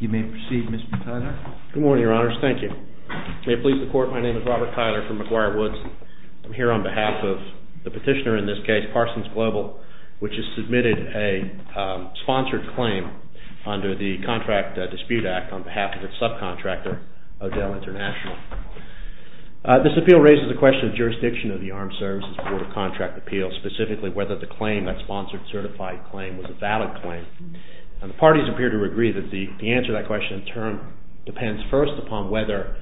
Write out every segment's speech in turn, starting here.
You may proceed, Mr. Tyler. Good morning, Your Honors. Thank you. May it please the Court, my name is Robert Tyler from McGuire Woods. I'm here on behalf of the petitioner in this case, PARSONS GLOBAL, which has submitted a sponsored claim under the Contract Dispute Act on behalf of its subcontractor, O'Dell International. This appeal raises the question of jurisdiction of the Armed Services Board of Contract Appeals, specifically whether the claim, that sponsored certified claim, was a valid claim. And the parties appear to agree that the answer to that question, in turn, depends first upon whether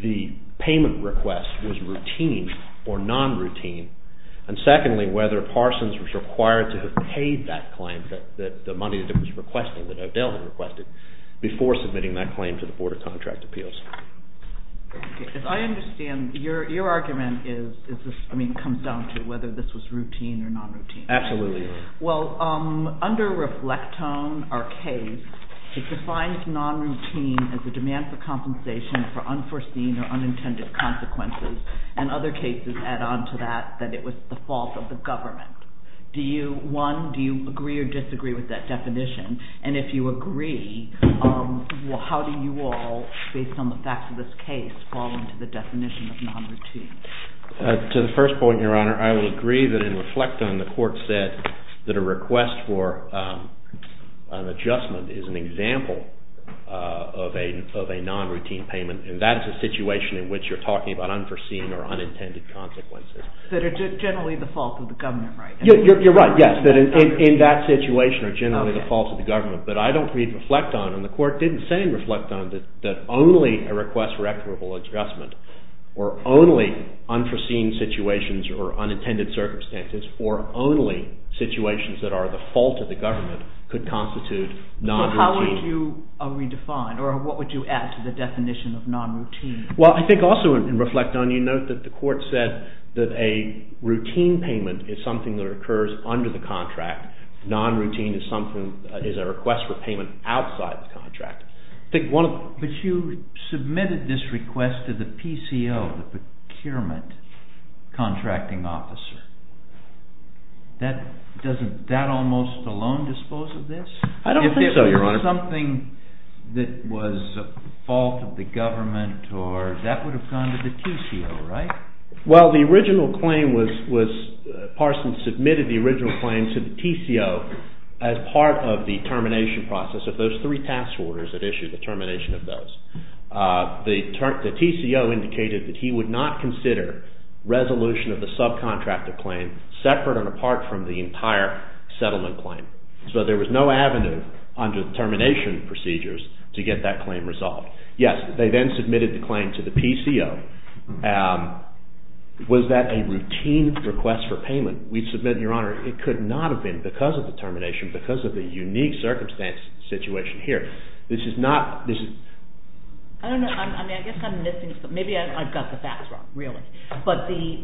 the payment request was routine or non-routine, and secondly, whether PARSONS was required to have paid that claim, the money that it was requesting, that O'Dell had requested, before submitting that claim to the Board of Contract Appeals. If I understand, your argument comes down to whether this was routine or non-routine. Absolutely. Well, under Reflectone, our case, it defines non-routine as a demand for compensation for unforeseen or unintended consequences, and other cases add on to that that it was the fault of government. Do you, one, do you agree or disagree with that definition? And if you agree, how do you all, based on the facts of this case, fall into the definition of non-routine? To the first point, your Honor, I will agree that in Reflectone, the court said that a request for an adjustment is an example of a non-routine payment, and that is a situation in which you're talking about unforeseen or unintended consequences. That are generally the fault of the government, right? You're right, yes, that in that situation are generally the fault of the government, but I don't read Reflectone, and the court didn't say in Reflectone that only a request for equitable adjustment, or only unforeseen situations or unintended circumstances, or only situations that are the fault of the government, could constitute non-routine. So how would you redefine, or what would you add to the definition of non-routine? Well, I think also in Reflectone, you note that the court said that a routine payment is something that occurs under the contract. Non-routine is a request for payment outside the contract. But you submitted this request to the PCO, the Procurement Contracting Officer. Doesn't that almost alone dispose of this? I don't think so, your Honor. Something that was a fault of the government, or that would have gone to the TCO, right? Well, the original claim was, Parson submitted the original claim to the TCO as part of the termination process of those three task orders that issued the termination of those. The TCO indicated that he would not consider resolution of the subcontractor claim separate and apart from the entire settlement claim. So there was no avenue under the termination procedures to get that claim resolved. Yes, they then submitted the claim to the PCO. Was that a routine request for payment? We submit, your Honor, it could not have been because of the termination, because of the unique circumstance, situation here. This is not, this is... I don't know, I mean, I guess I'm missing something. Maybe I've got the facts wrong, really. But the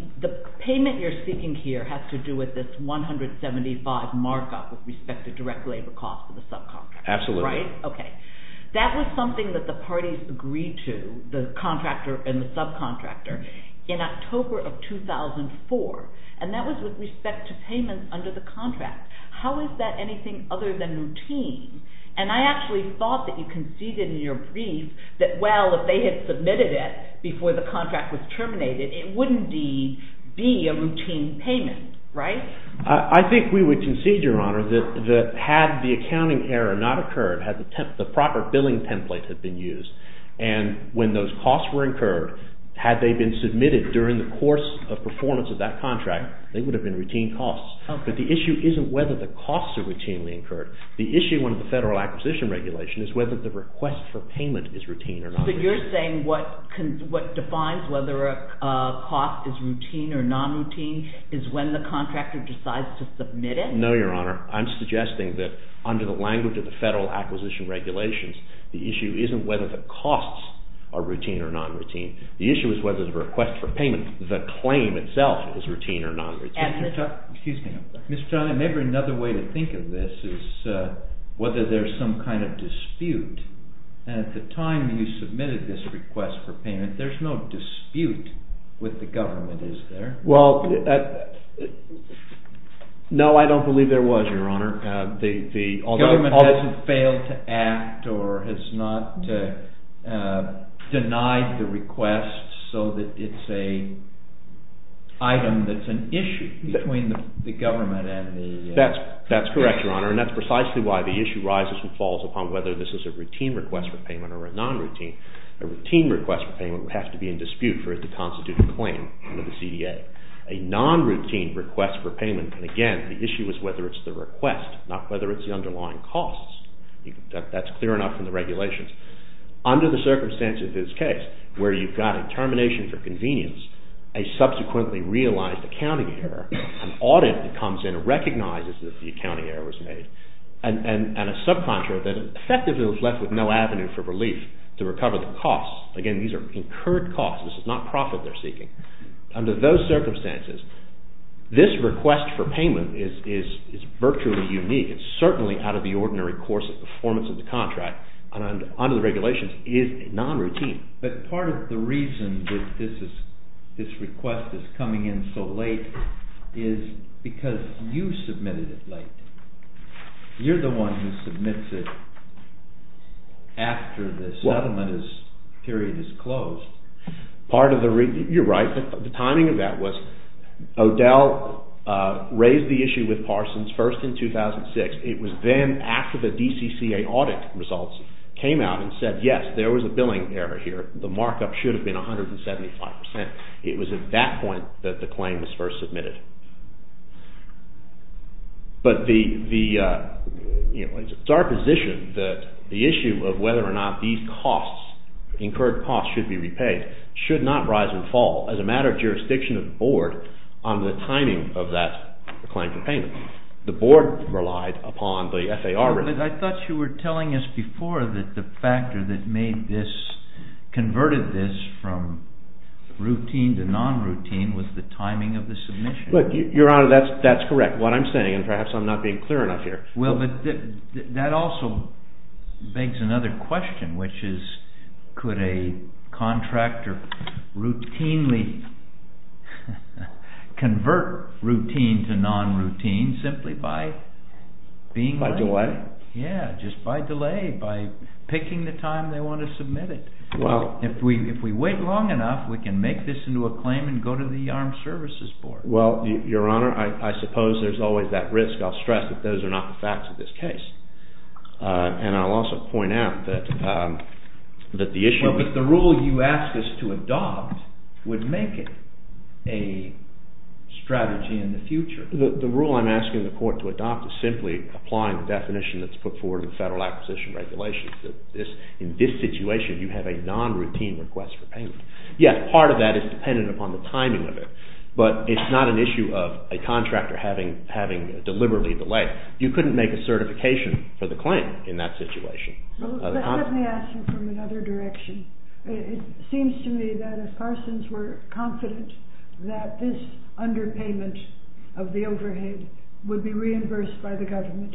payment you're seeking here has to do with this $175 markup with respect to direct labor costs for the subcontractor, right? Absolutely. Okay. That was something that the parties agreed to, the contractor and the subcontractor, in October of 2004. And that was with respect to payment under the contract. How is that anything other than routine? And I actually thought that you conceded in your brief that, well, if they had submitted it before the contract was terminated, it wouldn't be a routine payment, right? I think we would concede, your Honor, that had the accounting error not occurred, had the proper billing template had been used, and when those costs were incurred, had they been submitted during the course of performance of that contract, they would have been routine costs. But the issue isn't whether the costs are routinely incurred. The issue under the Federal Acquisition Regulation is whether the request for payment is routine or not. So you're saying what defines whether a cost is routine or non-routine is when the contractor decides to submit it? No, your Honor. I'm suggesting that under the language of the Federal Acquisition Regulations, the issue isn't whether the costs are routine or non-routine. The issue is whether the request for payment, the claim itself, is routine or non-routine. Mr. Turner, maybe another way to think of this is whether there's some kind of dispute, and at the time you submitted this request for payment, there's no dispute with the government, is there? Well, no, I don't believe there was, your Honor. The government hasn't failed to act or has not denied the request so that it's an item that's an issue between the government and the... That's correct, your Honor, and that's precisely why the issue rises and falls upon whether this is a routine request for payment or a non-routine. A routine request for payment would have to be in dispute for it to constitute a claim under the CDA. A non-routine request for payment, and again, the issue is whether it's the request, not whether it's the underlying costs. That's clear enough from the regulations. Under the circumstances of this case, where you've got a termination for convenience, a subsequently realized accounting error, an audit that comes in and recognizes that the accounting error was made, and a subcontract that effectively was left with no avenue for relief to recover the costs, again, these are incurred costs. This is not profit they're seeking. Under those circumstances, this request for payment is virtually unique. It's certainly out of the ordinary course of performance of the contract, and under the regulations, is non-routine. But part of the reason that this request is coming in so late is because you submitted it late. You're the one who submits it after the settlement period is closed. Part of the reason, you're right, the timing of that was O'Dell raised the issue with Parsons first in 2006. It was then after the DCCA audit results came out and said, yes, there was a billing error here. The markup should have been 175%. It was at that point that the claim was first submitted. But it's our position that the issue of whether or not these costs, incurred costs, should be repaid should not rise and fall as a matter of jurisdiction of the board on the timing of that claim for payment. The board relied upon the FAR. I thought you were telling us before that the factor that converted this from routine to non-routine was the timing of the submission. Your Honor, that's correct. What I'm saying, and perhaps I'm not being clear enough here. That also begs another question, which is, could a contractor routinely convert routine to non-routine simply by delay? By picking the time they want to submit it. If we wait long enough, we can make this into a claim and go to the Armed Services Board. Your Honor, I suppose there's always that risk. I'll stress that those are not the facts of this case. And I'll also point out that the issue... The rule I'm asking the court to adopt is simply applying the definition that's put forward in the Federal Acquisition Regulations. In this situation, you have a non-routine request for payment. Yes, part of that is dependent upon the timing of it. But it's not an issue of a contractor having deliberately delayed. You couldn't make a certification for the claim in that situation. Let me ask you from another direction. It seems to me that if Parsons were confident that this underpayment of the overhead would be reimbursed by the government,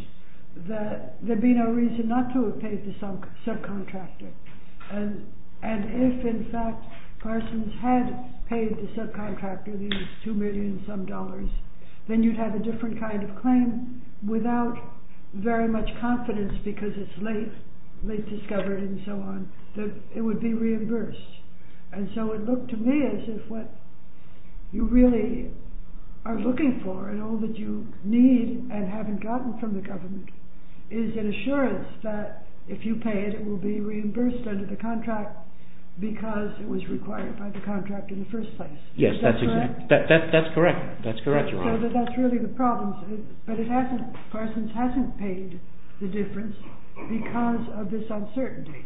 that there would be no reason not to have paid the subcontractor. And if, in fact, Parsons had paid the subcontractor these two million some dollars, then you'd have a different kind of claim without very much confidence because it's late, late discovered and so on, that it would be reimbursed. And so it looked to me as if what you really are looking for and all that you need and haven't gotten from the government is an assurance that if you pay it, it will be reimbursed under the contract because it was required by the contract in the first place. Yes, that's correct. That's correct, Your Honor. So that that's really the problem. But it hasn't... Parsons hasn't paid the difference because of this uncertainty.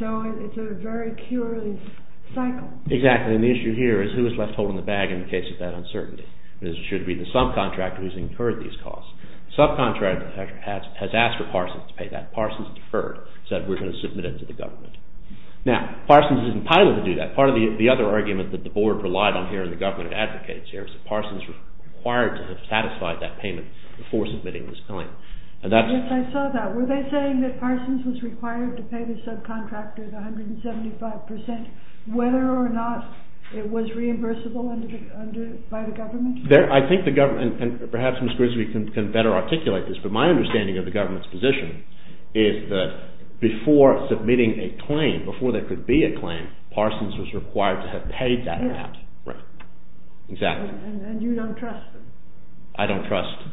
So it's a very curious cycle. Exactly. And the issue here is who is left holding the bag in the case of that uncertainty. It should be the subcontractor who's incurred these costs. The subcontractor has asked for Parsons to pay that. Parsons deferred, said we're going to submit it to the government. Now, Parsons isn't entitled to do that. Part of the other argument that the Board relied on here and the government advocates here is that Parsons was required to have satisfied that payment before submitting this claim. Yes, I saw that. Were they saying that Parsons was required to pay the subcontractor the 175% whether or not it was reimbursable by the government? I think the government, and perhaps Ms. Grisby can better articulate this, but my understanding of the government's position is that before submitting a claim, before there could be a claim, Parsons was required to have paid that amount. Right. Exactly. And you don't trust them? I don't trust...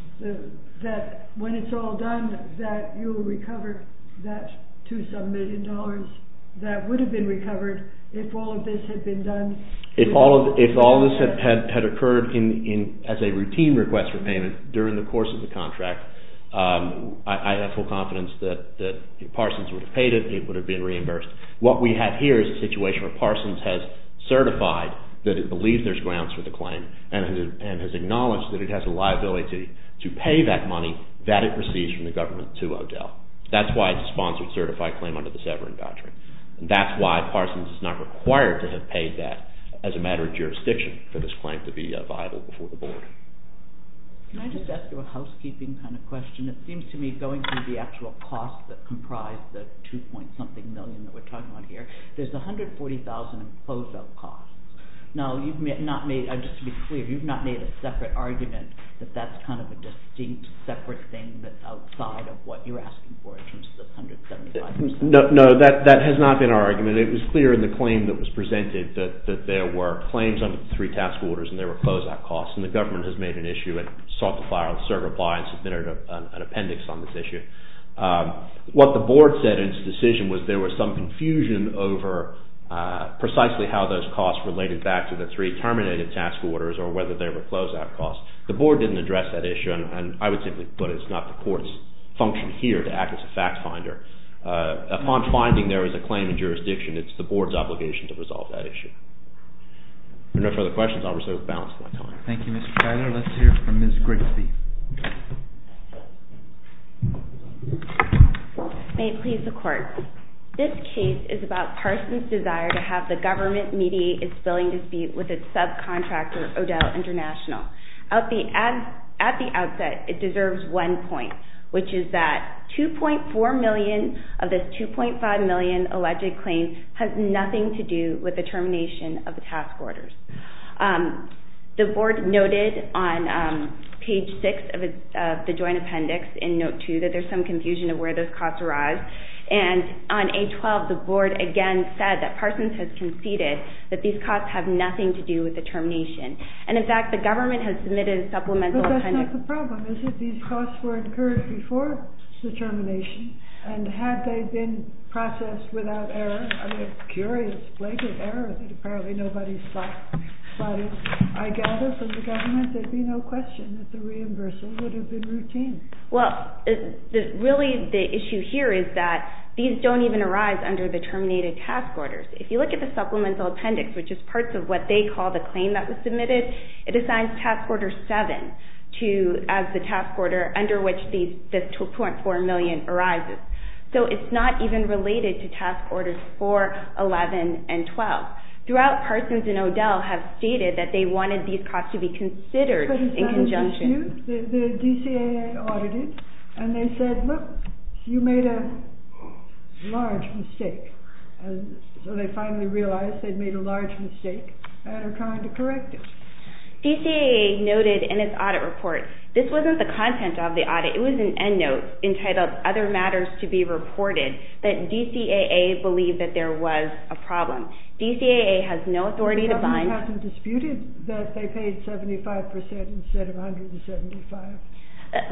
That when it's all done, that you'll recover that two-some million dollars that would have been recovered if all of this had been done? If all of this had occurred as a routine request for payment during the course of the contract, I have full confidence that if Parsons would have paid it, it would have been reimbursed. What we have here is a situation where Parsons has certified that it believes there's grounds for the claim and has acknowledged that it has a liability to pay that money that it receives from the government to Odell. That's why it's a sponsored certified claim under the Severan doctrine. And that's why Parsons is not required to have paid that as a matter of jurisdiction for this claim to be viable before the board. Can I just ask you a housekeeping kind of question? It seems to me going through the actual costs that comprise the two-point-something million that we're talking about here, there's 140,000 in close-up costs. No, you've not made, just to be clear, you've not made a separate argument that that's kind of a distinct separate thing that's outside of what you're asking for in terms of the 175,000. No, that has not been our argument. It was clear in the claim that was presented that there were claims under the three-task orders and there were close-up costs. And the government has made an issue and sought to file a certify and submitted an appendix on this issue. What the board said in its decision was there was some confusion over precisely how those related back to the three terminated task orders or whether there were close-up costs. The board didn't address that issue and I would simply put it's not the court's function here to act as a fact finder. Upon finding there is a claim in jurisdiction, it's the board's obligation to resolve that issue. If there are no further questions, I'll reserve the balance of my time. Thank you, Mr. Tyler. May it please the court. This case is about Parson's desire to have the government mediate its billing dispute with its subcontractor, O'Dell International. At the outset, it deserves one point, which is that 2.4 million of this 2.5 million alleged claim has nothing to do with the termination of the task orders. The board noted on page 6 of the joint appendix in note 2 that there's some confusion of where those costs arise and on page 12 the board again said that Parson's has conceded that these costs have nothing to do with the termination and in fact the government has submitted a supplemental appendix. But that's not the problem, is it? These costs were incurred before the termination and had they been processed without error, I'm curious, blatant error that apparently nobody spotted, I gather from the government there'd be no question that the reimbursement would have been routine. Well, really the issue here is that these don't even arise under the terminated task orders. If you look at the supplemental appendix, which is part of what they call the claim that was submitted, it assigns task order 7 as the task order under which the 2.4 million arises. So it's not even related to task orders 4, 11 and 12. Throughout, Parson's and O'Dell have stated that they wanted these costs to be considered in conjunction. The DCAA audited and they said, look, you made a large mistake. So they finally realized they'd made a large mistake and are trying to correct it. DCAA noted in its audit report, this wasn't the content of the audit, it was an end note entitled, Other Matters to be Reported, that DCAA believed that there was a problem. DCAA has no authority to bind... They haven't disputed that they paid 75% instead of 175.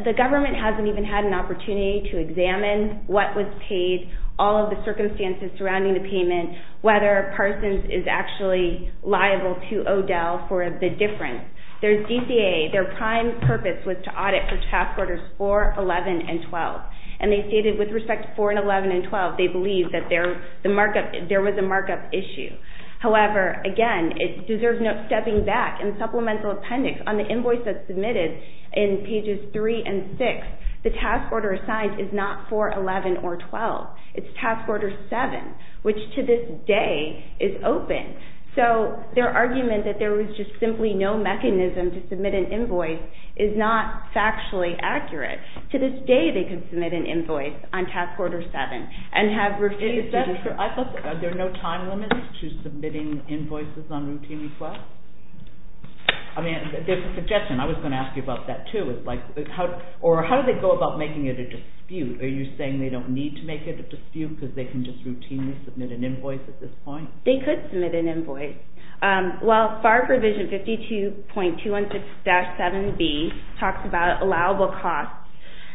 The government hasn't even had an opportunity to examine what was paid, all of the circumstances surrounding the payment, whether Parson's is actually liable to O'Dell for the difference. There's DCAA, their prime purpose was to audit for task orders 4, 11 and 12. And they stated with respect to 4 and 11 and 12, they believe that there was a markup issue. However, again, it deserves no stepping back and supplemental appendix on the invoice that's submitted in pages 3 and 6, the task order assigned is not 4, 11 or 12. It's task order 7, which to this day is open. So their argument that there was just simply no mechanism to submit an invoice is not factually accurate. To this day, they can submit an invoice on task order 7 and have received... I thought there are no time limits to submitting invoices on routine requests? I mean, there's a suggestion. I was going to ask you about that too. Or how do they go about making it a dispute? Are you saying they don't need to make it a dispute because they can just routinely submit an invoice at this point? They could submit an invoice. Well, FAR provision 52.216-7B talks about allowable costs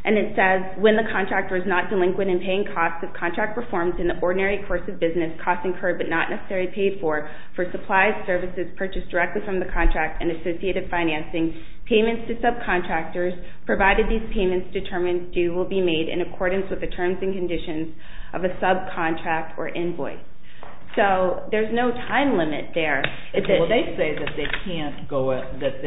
and it says, when the contractor is not delinquent in paying costs of contract reforms in the ordinary course of business, costs incurred but not necessarily paid for, for supplies, services purchased directly from the contract and associated financing, payments to subcontractors provided these payments determined due will be made in accordance with the terms and conditions of a subcontract or invoice. So there's no time limit there. Well, they say that they can't go... that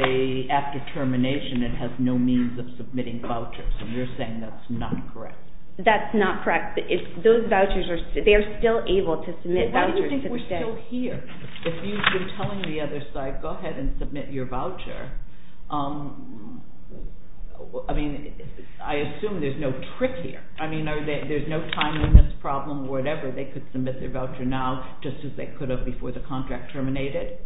after termination it has no means of submitting vouchers. So you're saying that's not correct? That's not correct. Those vouchers, they are still able to submit vouchers to the day. So why do you think we're still here? If you've been telling the other side, go ahead and submit your voucher. I mean, I assume there's no trick here. I mean, there's no time limit problem, whatever. They could submit their voucher now just as they could have before the contract terminated?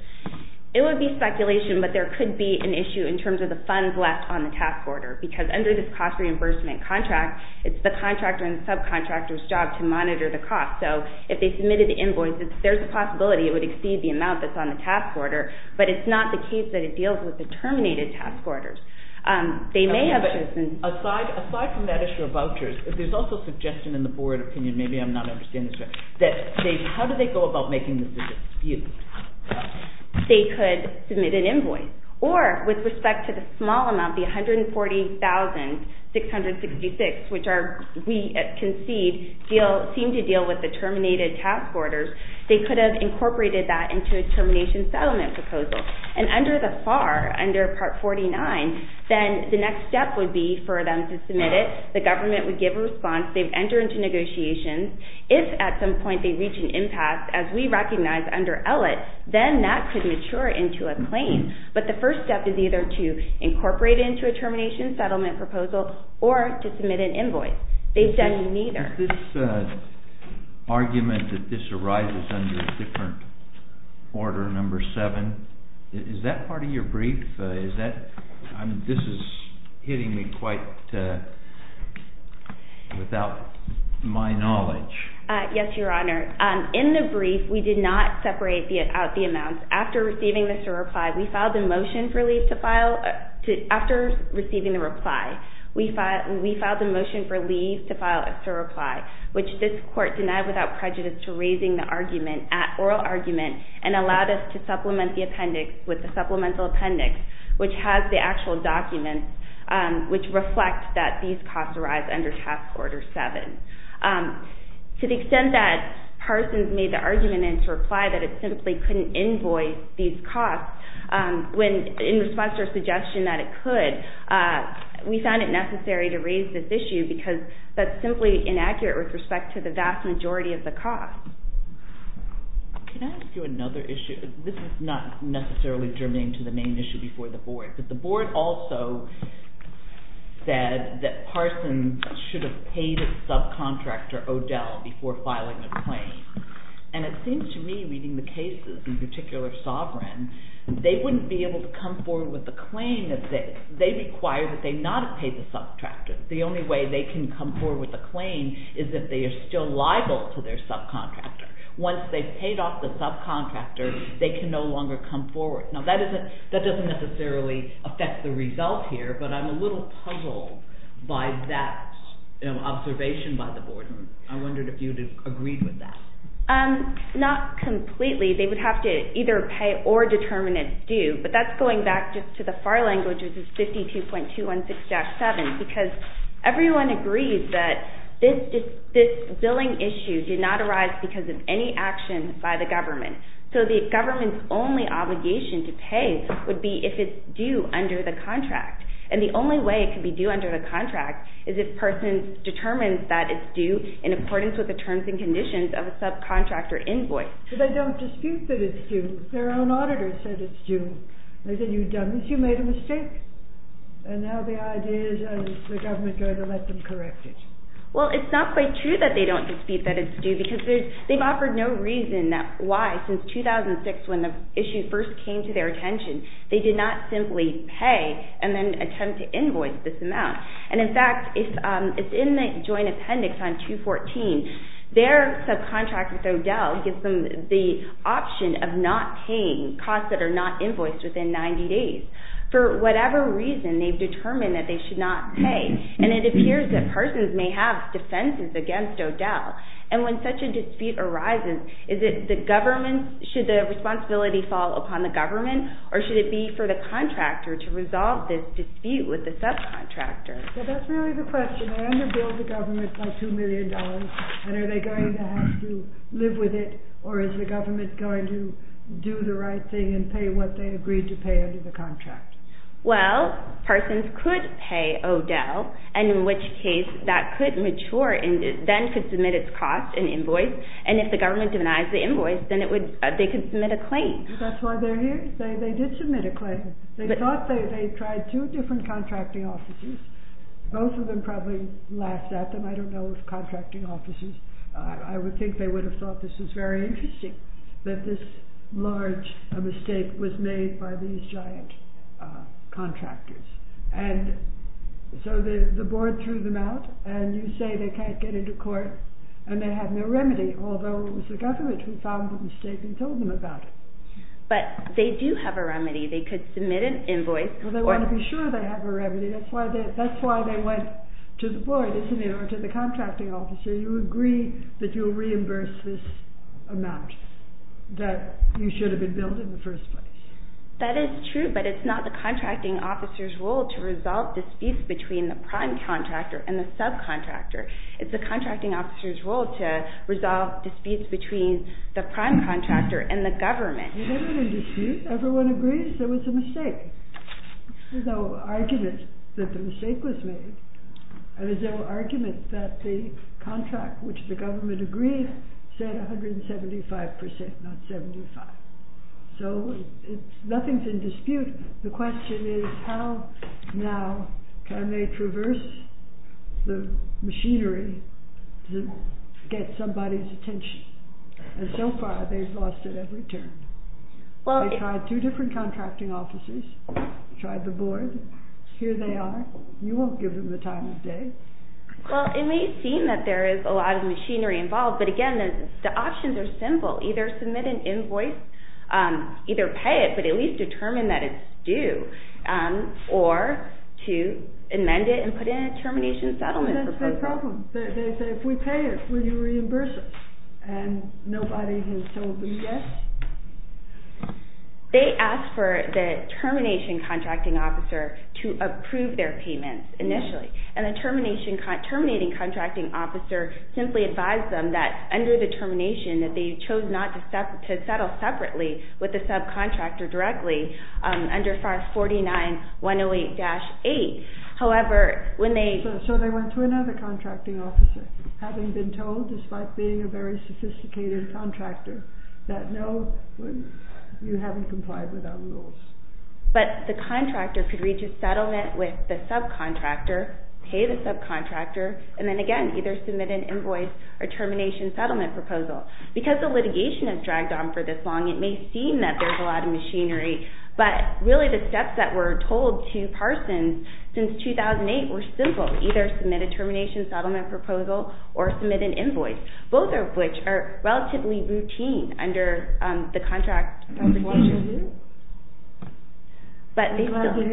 It would be speculation, but there could be an issue in terms of the funds left on the task order, because under this cost reimbursement contract, it's the contractor and subcontractor's job to monitor the cost. So if they submitted the invoice, there's a possibility it would exceed the amount that's on the task order, but it's not the case that it deals with the terminated task orders. They may have chosen... Aside from that issue of vouchers, there's also a suggestion in the board opinion, maybe I'm not understanding this right, that how do they go about making this decision? You. They could submit an invoice. Or, with respect to the small amount, the $140,666, which we concede seemed to deal with the terminated task orders, they could have incorporated that into a termination settlement proposal. And under the FAR, under Part 49, then the next step would be for them to submit it. The government would give a response. They'd enter into negotiations. If at some point they reach an impasse, as we recognize under ELLIT, then that could mature into a claim. But the first step is either to incorporate it into a termination settlement proposal or to submit an invoice. They've done neither. This argument that this arises under a different order, number 7, is that part of your brief? Is that, this is hitting me quite, without my knowledge. Yes, Your Honor. In the brief, we did not separate out the amounts. After receiving the SIR reply, we filed a motion for leave to file, after receiving the reply, we filed a motion for leave to file a SIR reply, which this court denied without prejudice to raising the argument at oral argument and allowed us to supplement the appendix with the supplemental appendix, which has the actual documents, which reflect that these costs arise under Task Order 7. To the extent that Parsons made the argument in his reply that it simply couldn't invoice these costs, when in response to our suggestion that it could, we found it necessary to raise this issue because that's simply inaccurate with respect to the vast majority of the costs. Can I ask you another issue? This is not necessarily germane to the main issue before the Board, but the Board also said that Parsons should have paid his subcontractor, O'Dell, before filing a claim. And it seems to me, reading the cases, in particular Sovereign, they wouldn't be able to come forward with a claim if they, they require that they not have paid the subcontractor. The only way they can come forward with a claim is if they are still liable to their subcontractor. Once they've paid off the subcontractor, they can no longer come forward. Now, that isn't, that doesn't necessarily affect the result here, but I'm a little puzzled by that, you know, observation by the Board. I wondered if you'd agreed with that. Not completely. They would have to either pay or determine its due, but that's going back just to the Everyone agrees that this billing issue did not arise because of any action by the government. So the government's only obligation to pay would be if it's due under the contract. And the only way it could be due under the contract is if Parsons determines that it's due in accordance with the terms and conditions of a subcontractor invoice. But they don't dispute that it's due. Their own auditor said it's due. They said, you've done this, you've made a mistake. And now the idea is that the government is going to let them correct it. Well, it's not quite true that they don't dispute that it's due because they've offered no reason why, since 2006 when the issue first came to their attention, they did not simply pay and then attempt to invoice this amount. And in fact, it's in the joint appendix on 214. Their subcontractor, O'Dell, gives them the option of not paying costs that are not invoiced within 90 days. For whatever reason, they've determined that they should not pay. And it appears that Parsons may have defenses against O'Dell. And when such a dispute arises, should the responsibility fall upon the government or should it be for the contractor to resolve this dispute with the subcontractor? So that's really the question. They underbill the government by $2 million and are they going to have to live with it or is the government going to do the right thing and pay what they agreed to pay under the contract? Well, Parsons could pay O'Dell and in which case that could mature and then could submit its cost and invoice. And if the government denies the invoice, then they could submit a claim. That's why they're here. They did submit a claim. They thought they tried two different contracting offices. Both of them probably laughed at them. I don't know of contracting offices. I would think they would have thought this was very interesting that this large mistake was made by these giant contractors. And so the board threw them out and you say they can't get into court and they have no remedy, although it was the government who found the mistake and told them about it. But they do have a remedy. They could submit an invoice. Well, they want to be sure they have a remedy. That's why they went to the board, isn't it, or to the contracting officer. So you agree that you'll reimburse this amount that you should have been billed in the first place. That is true, but it's not the contracting officer's role to resolve disputes between the prime contractor and the subcontractor. It's the contracting officer's role to resolve disputes between the prime contractor and the government. There wasn't a dispute. Everyone agrees there was a mistake. There's no argument that the mistake was made. There's no argument that the contract, which the government agreed, said 175%, not 75%. So nothing's in dispute. The question is how now can they traverse the machinery to get somebody's attention? And so far they've lost it every turn. They tried two different contracting officers, tried the board. Here they are. You won't give them the time of day. Well, it may seem that there is a lot of machinery involved, but again, the options are simple. Either submit an invoice, either pay it, but at least determine that it's due, or to amend it and put in a termination settlement proposal. That's their problem. They say, if we pay it, will you reimburse us? And nobody has told them yes. They asked for the termination contracting officer to approve their payments initially, and the terminating contracting officer simply advised them that under the termination that they chose not to settle separately with the subcontractor directly under 49-108-8. So they went to another contracting officer, having been told, despite being a very sophisticated contractor, that no, you haven't complied with our rules. But the contractor could reach a settlement with the subcontractor, pay the subcontractor, and then again, either submit an invoice or termination settlement proposal. Because the litigation has dragged on for this long, it may seem that there's a lot of machinery, but really the steps that were told to Parsons since 2008 were simple. Either submit a termination settlement proposal or submit an invoice, both of which are relatively routine under the contract. I'm glad to hear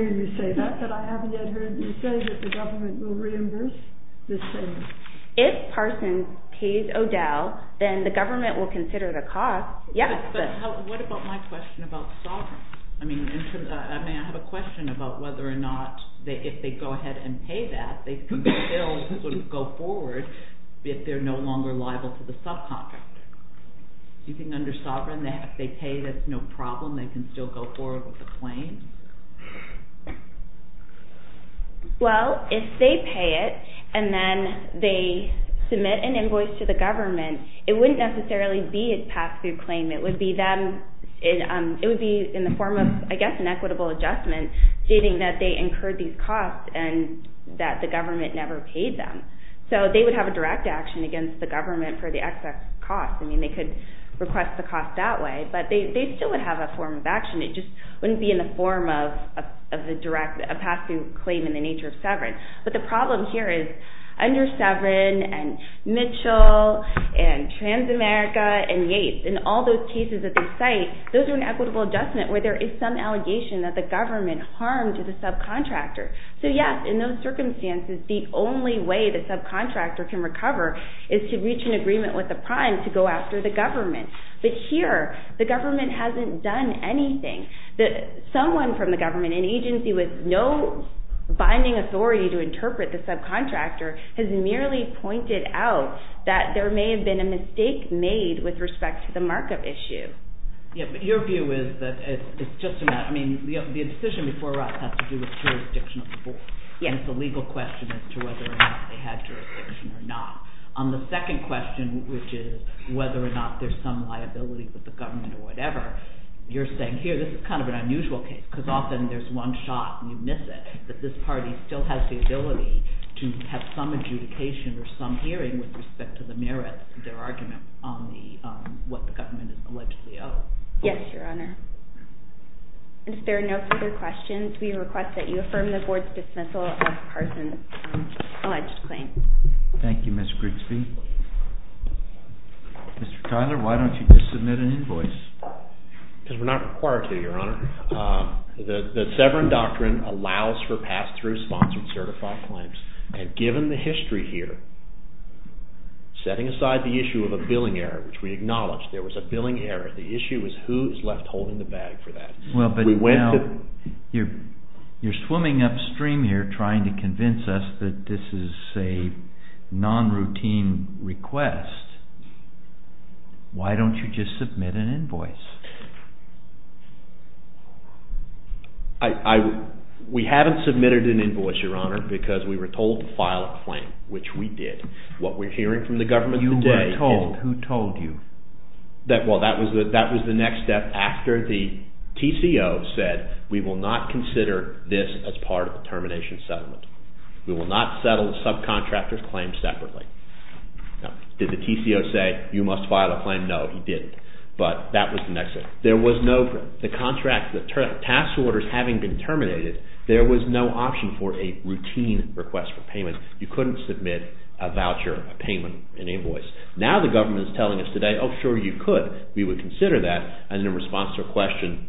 you say that, but I haven't yet heard you say that the government will reimburse this payment. If Parsons pays O'Dell, then the government will consider the cost. But what about my question about sovereignty? May I have a question about whether or not, if they go ahead and pay that, they can still sort of go forward if they're no longer liable to the subcontractor. Do you think under sovereign, if they pay, that's no problem, they can still go forward with the claim? Well, if they pay it and then they submit an invoice to the government, it wouldn't necessarily be a pass-through claim. It would be in the form of, I guess, an equitable adjustment, stating that they incurred these costs and that the government never paid them. So they would have a direct action against the government for the excess cost. I mean, they could request the cost that way, but they still would have a form of action. It just wouldn't be in the form of a pass-through claim in the nature of sovereign. But the problem here is, under sovereign and Mitchell and Transamerica and Yates and all those cases at this site, those are an equitable adjustment where there is some allegation that the government harmed the subcontractor. So yes, in those circumstances, the only way the subcontractor can recover is to reach an agreement with the prime to go after the government. But here, the government hasn't done anything. Someone from the government, an agency with no binding authority to interpret the subcontractor, has merely pointed out that there may have been a mistake made with respect to the markup issue. Yeah, but your view is that it's just a matter... The decision before us has to do with jurisdiction of the board. And it's a legal question as to whether or not they had jurisdiction or not. On the second question, which is whether or not there's some liability with the government or whatever, you're saying here this is kind of an unusual case because often there's one shot and you miss it, but this party still has the ability to have some adjudication or some hearing with respect to the merits of their argument on what the government is allegedly owed. Yes, Your Honor. And if there are no further questions, we request that you affirm the board's dismissal of Carson's alleged claim. Thank you, Ms. Grigsby. Mr. Tyler, why don't you just submit an invoice? Because we're not required to, Your Honor. The Severan Doctrine allows for pass-through sponsored certified claims. And given the history here, setting aside the issue of a billing error, which we acknowledge there was a billing error, the issue is who is left holding the bag for that. Well, but now you're swimming upstream here trying to convince us that this is a non-routine request. Why don't you just submit an invoice? We haven't submitted an invoice, Your Honor, because we were told to file a claim, which we did. What we're hearing from the government today is... You were told? Who told you? Well, that was the next step after the TCO said, we will not consider this as part of the termination settlement. We will not settle the subcontractor's claim separately. Now, did the TCO say, you must file a claim? No, he didn't. But that was the next step. There was no... The contract, the task orders having been terminated, there was no option for a routine request for payment. You couldn't submit a voucher, a payment, an invoice. Now the government is telling us today, oh, sure, you could. We would consider that. And in response to a question,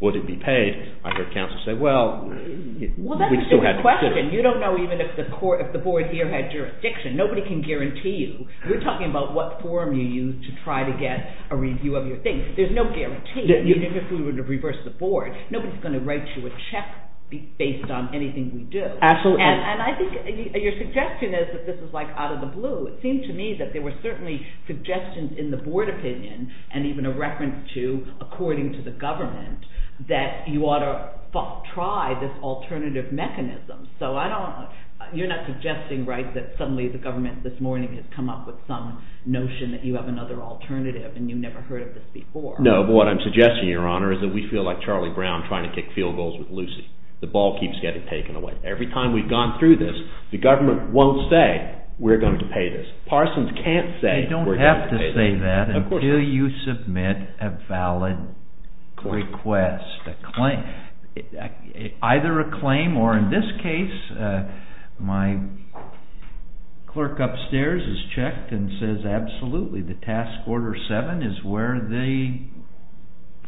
would it be paid? I heard counsel say, well, we still had to consider it. Well, that's a different question. You don't know even if the board here had jurisdiction. Nobody can guarantee you. We're talking about what form you use to try to get a review of your thing. There's no guarantee. Even if we were to reverse the board, nobody's going to write you a check based on anything we do. Absolutely. And I think your suggestion is that this is like out of the blue. It seemed to me that there were certainly suggestions in the board opinion and even a reference to, according to the government, that you ought to try this alternative mechanism. So I don't... You're not suggesting, right, that suddenly the government this morning has come up with some notion that you have another alternative and you've never heard of this before. No, but what I'm suggesting, Your Honor, is that we feel like Charlie Brown trying to kick field goals with Lucy. The ball keeps getting taken away. Every time we've gone through this, the government won't say, we're going to pay this. Parsons can't say, we're going to pay this. You don't have to say that until you submit a valid request, a claim, either a claim or, in this case, my clerk upstairs has checked and says, absolutely, the task order 7 is where the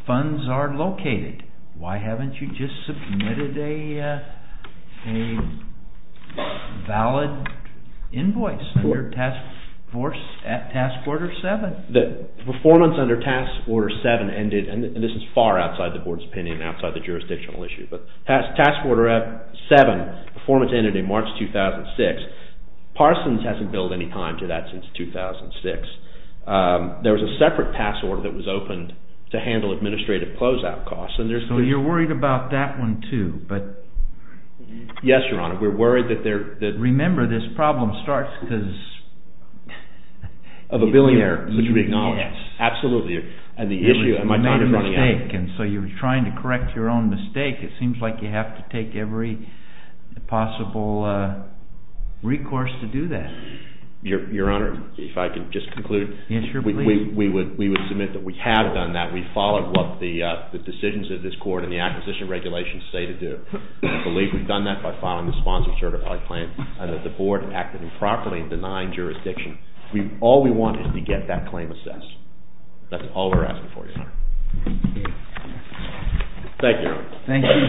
funds are located. Why haven't you just submitted a valid invoice under task order 7? The performance under task order 7 ended, and this is far outside the board's opinion, outside the jurisdictional issue, but task order 7, performance ended in March 2006. Parsons hasn't billed any time to that since 2006. There was a separate task order that was opened to handle administrative closeout costs. So you're worried about that one too? Yes, Your Honor. We're worried that... Remember, this problem starts because... Of a billionaire, which we acknowledge. Yes. Absolutely, and the issue... You made a mistake, and so you're trying to correct your own mistake. It seems like you have to take every possible recourse to do that. Your Honor, if I could just conclude. Yes, sure, please. We would submit that we have done that. We followed what the decisions of this court and the acquisition regulations say to do. I believe we've done that by following the sponsor certified plan and that the board acted improperly in denying jurisdiction. All we want is to get that claim assessed. That's all we're asking for, Your Honor. Thank you. Thank you, Your Honor. Thank you.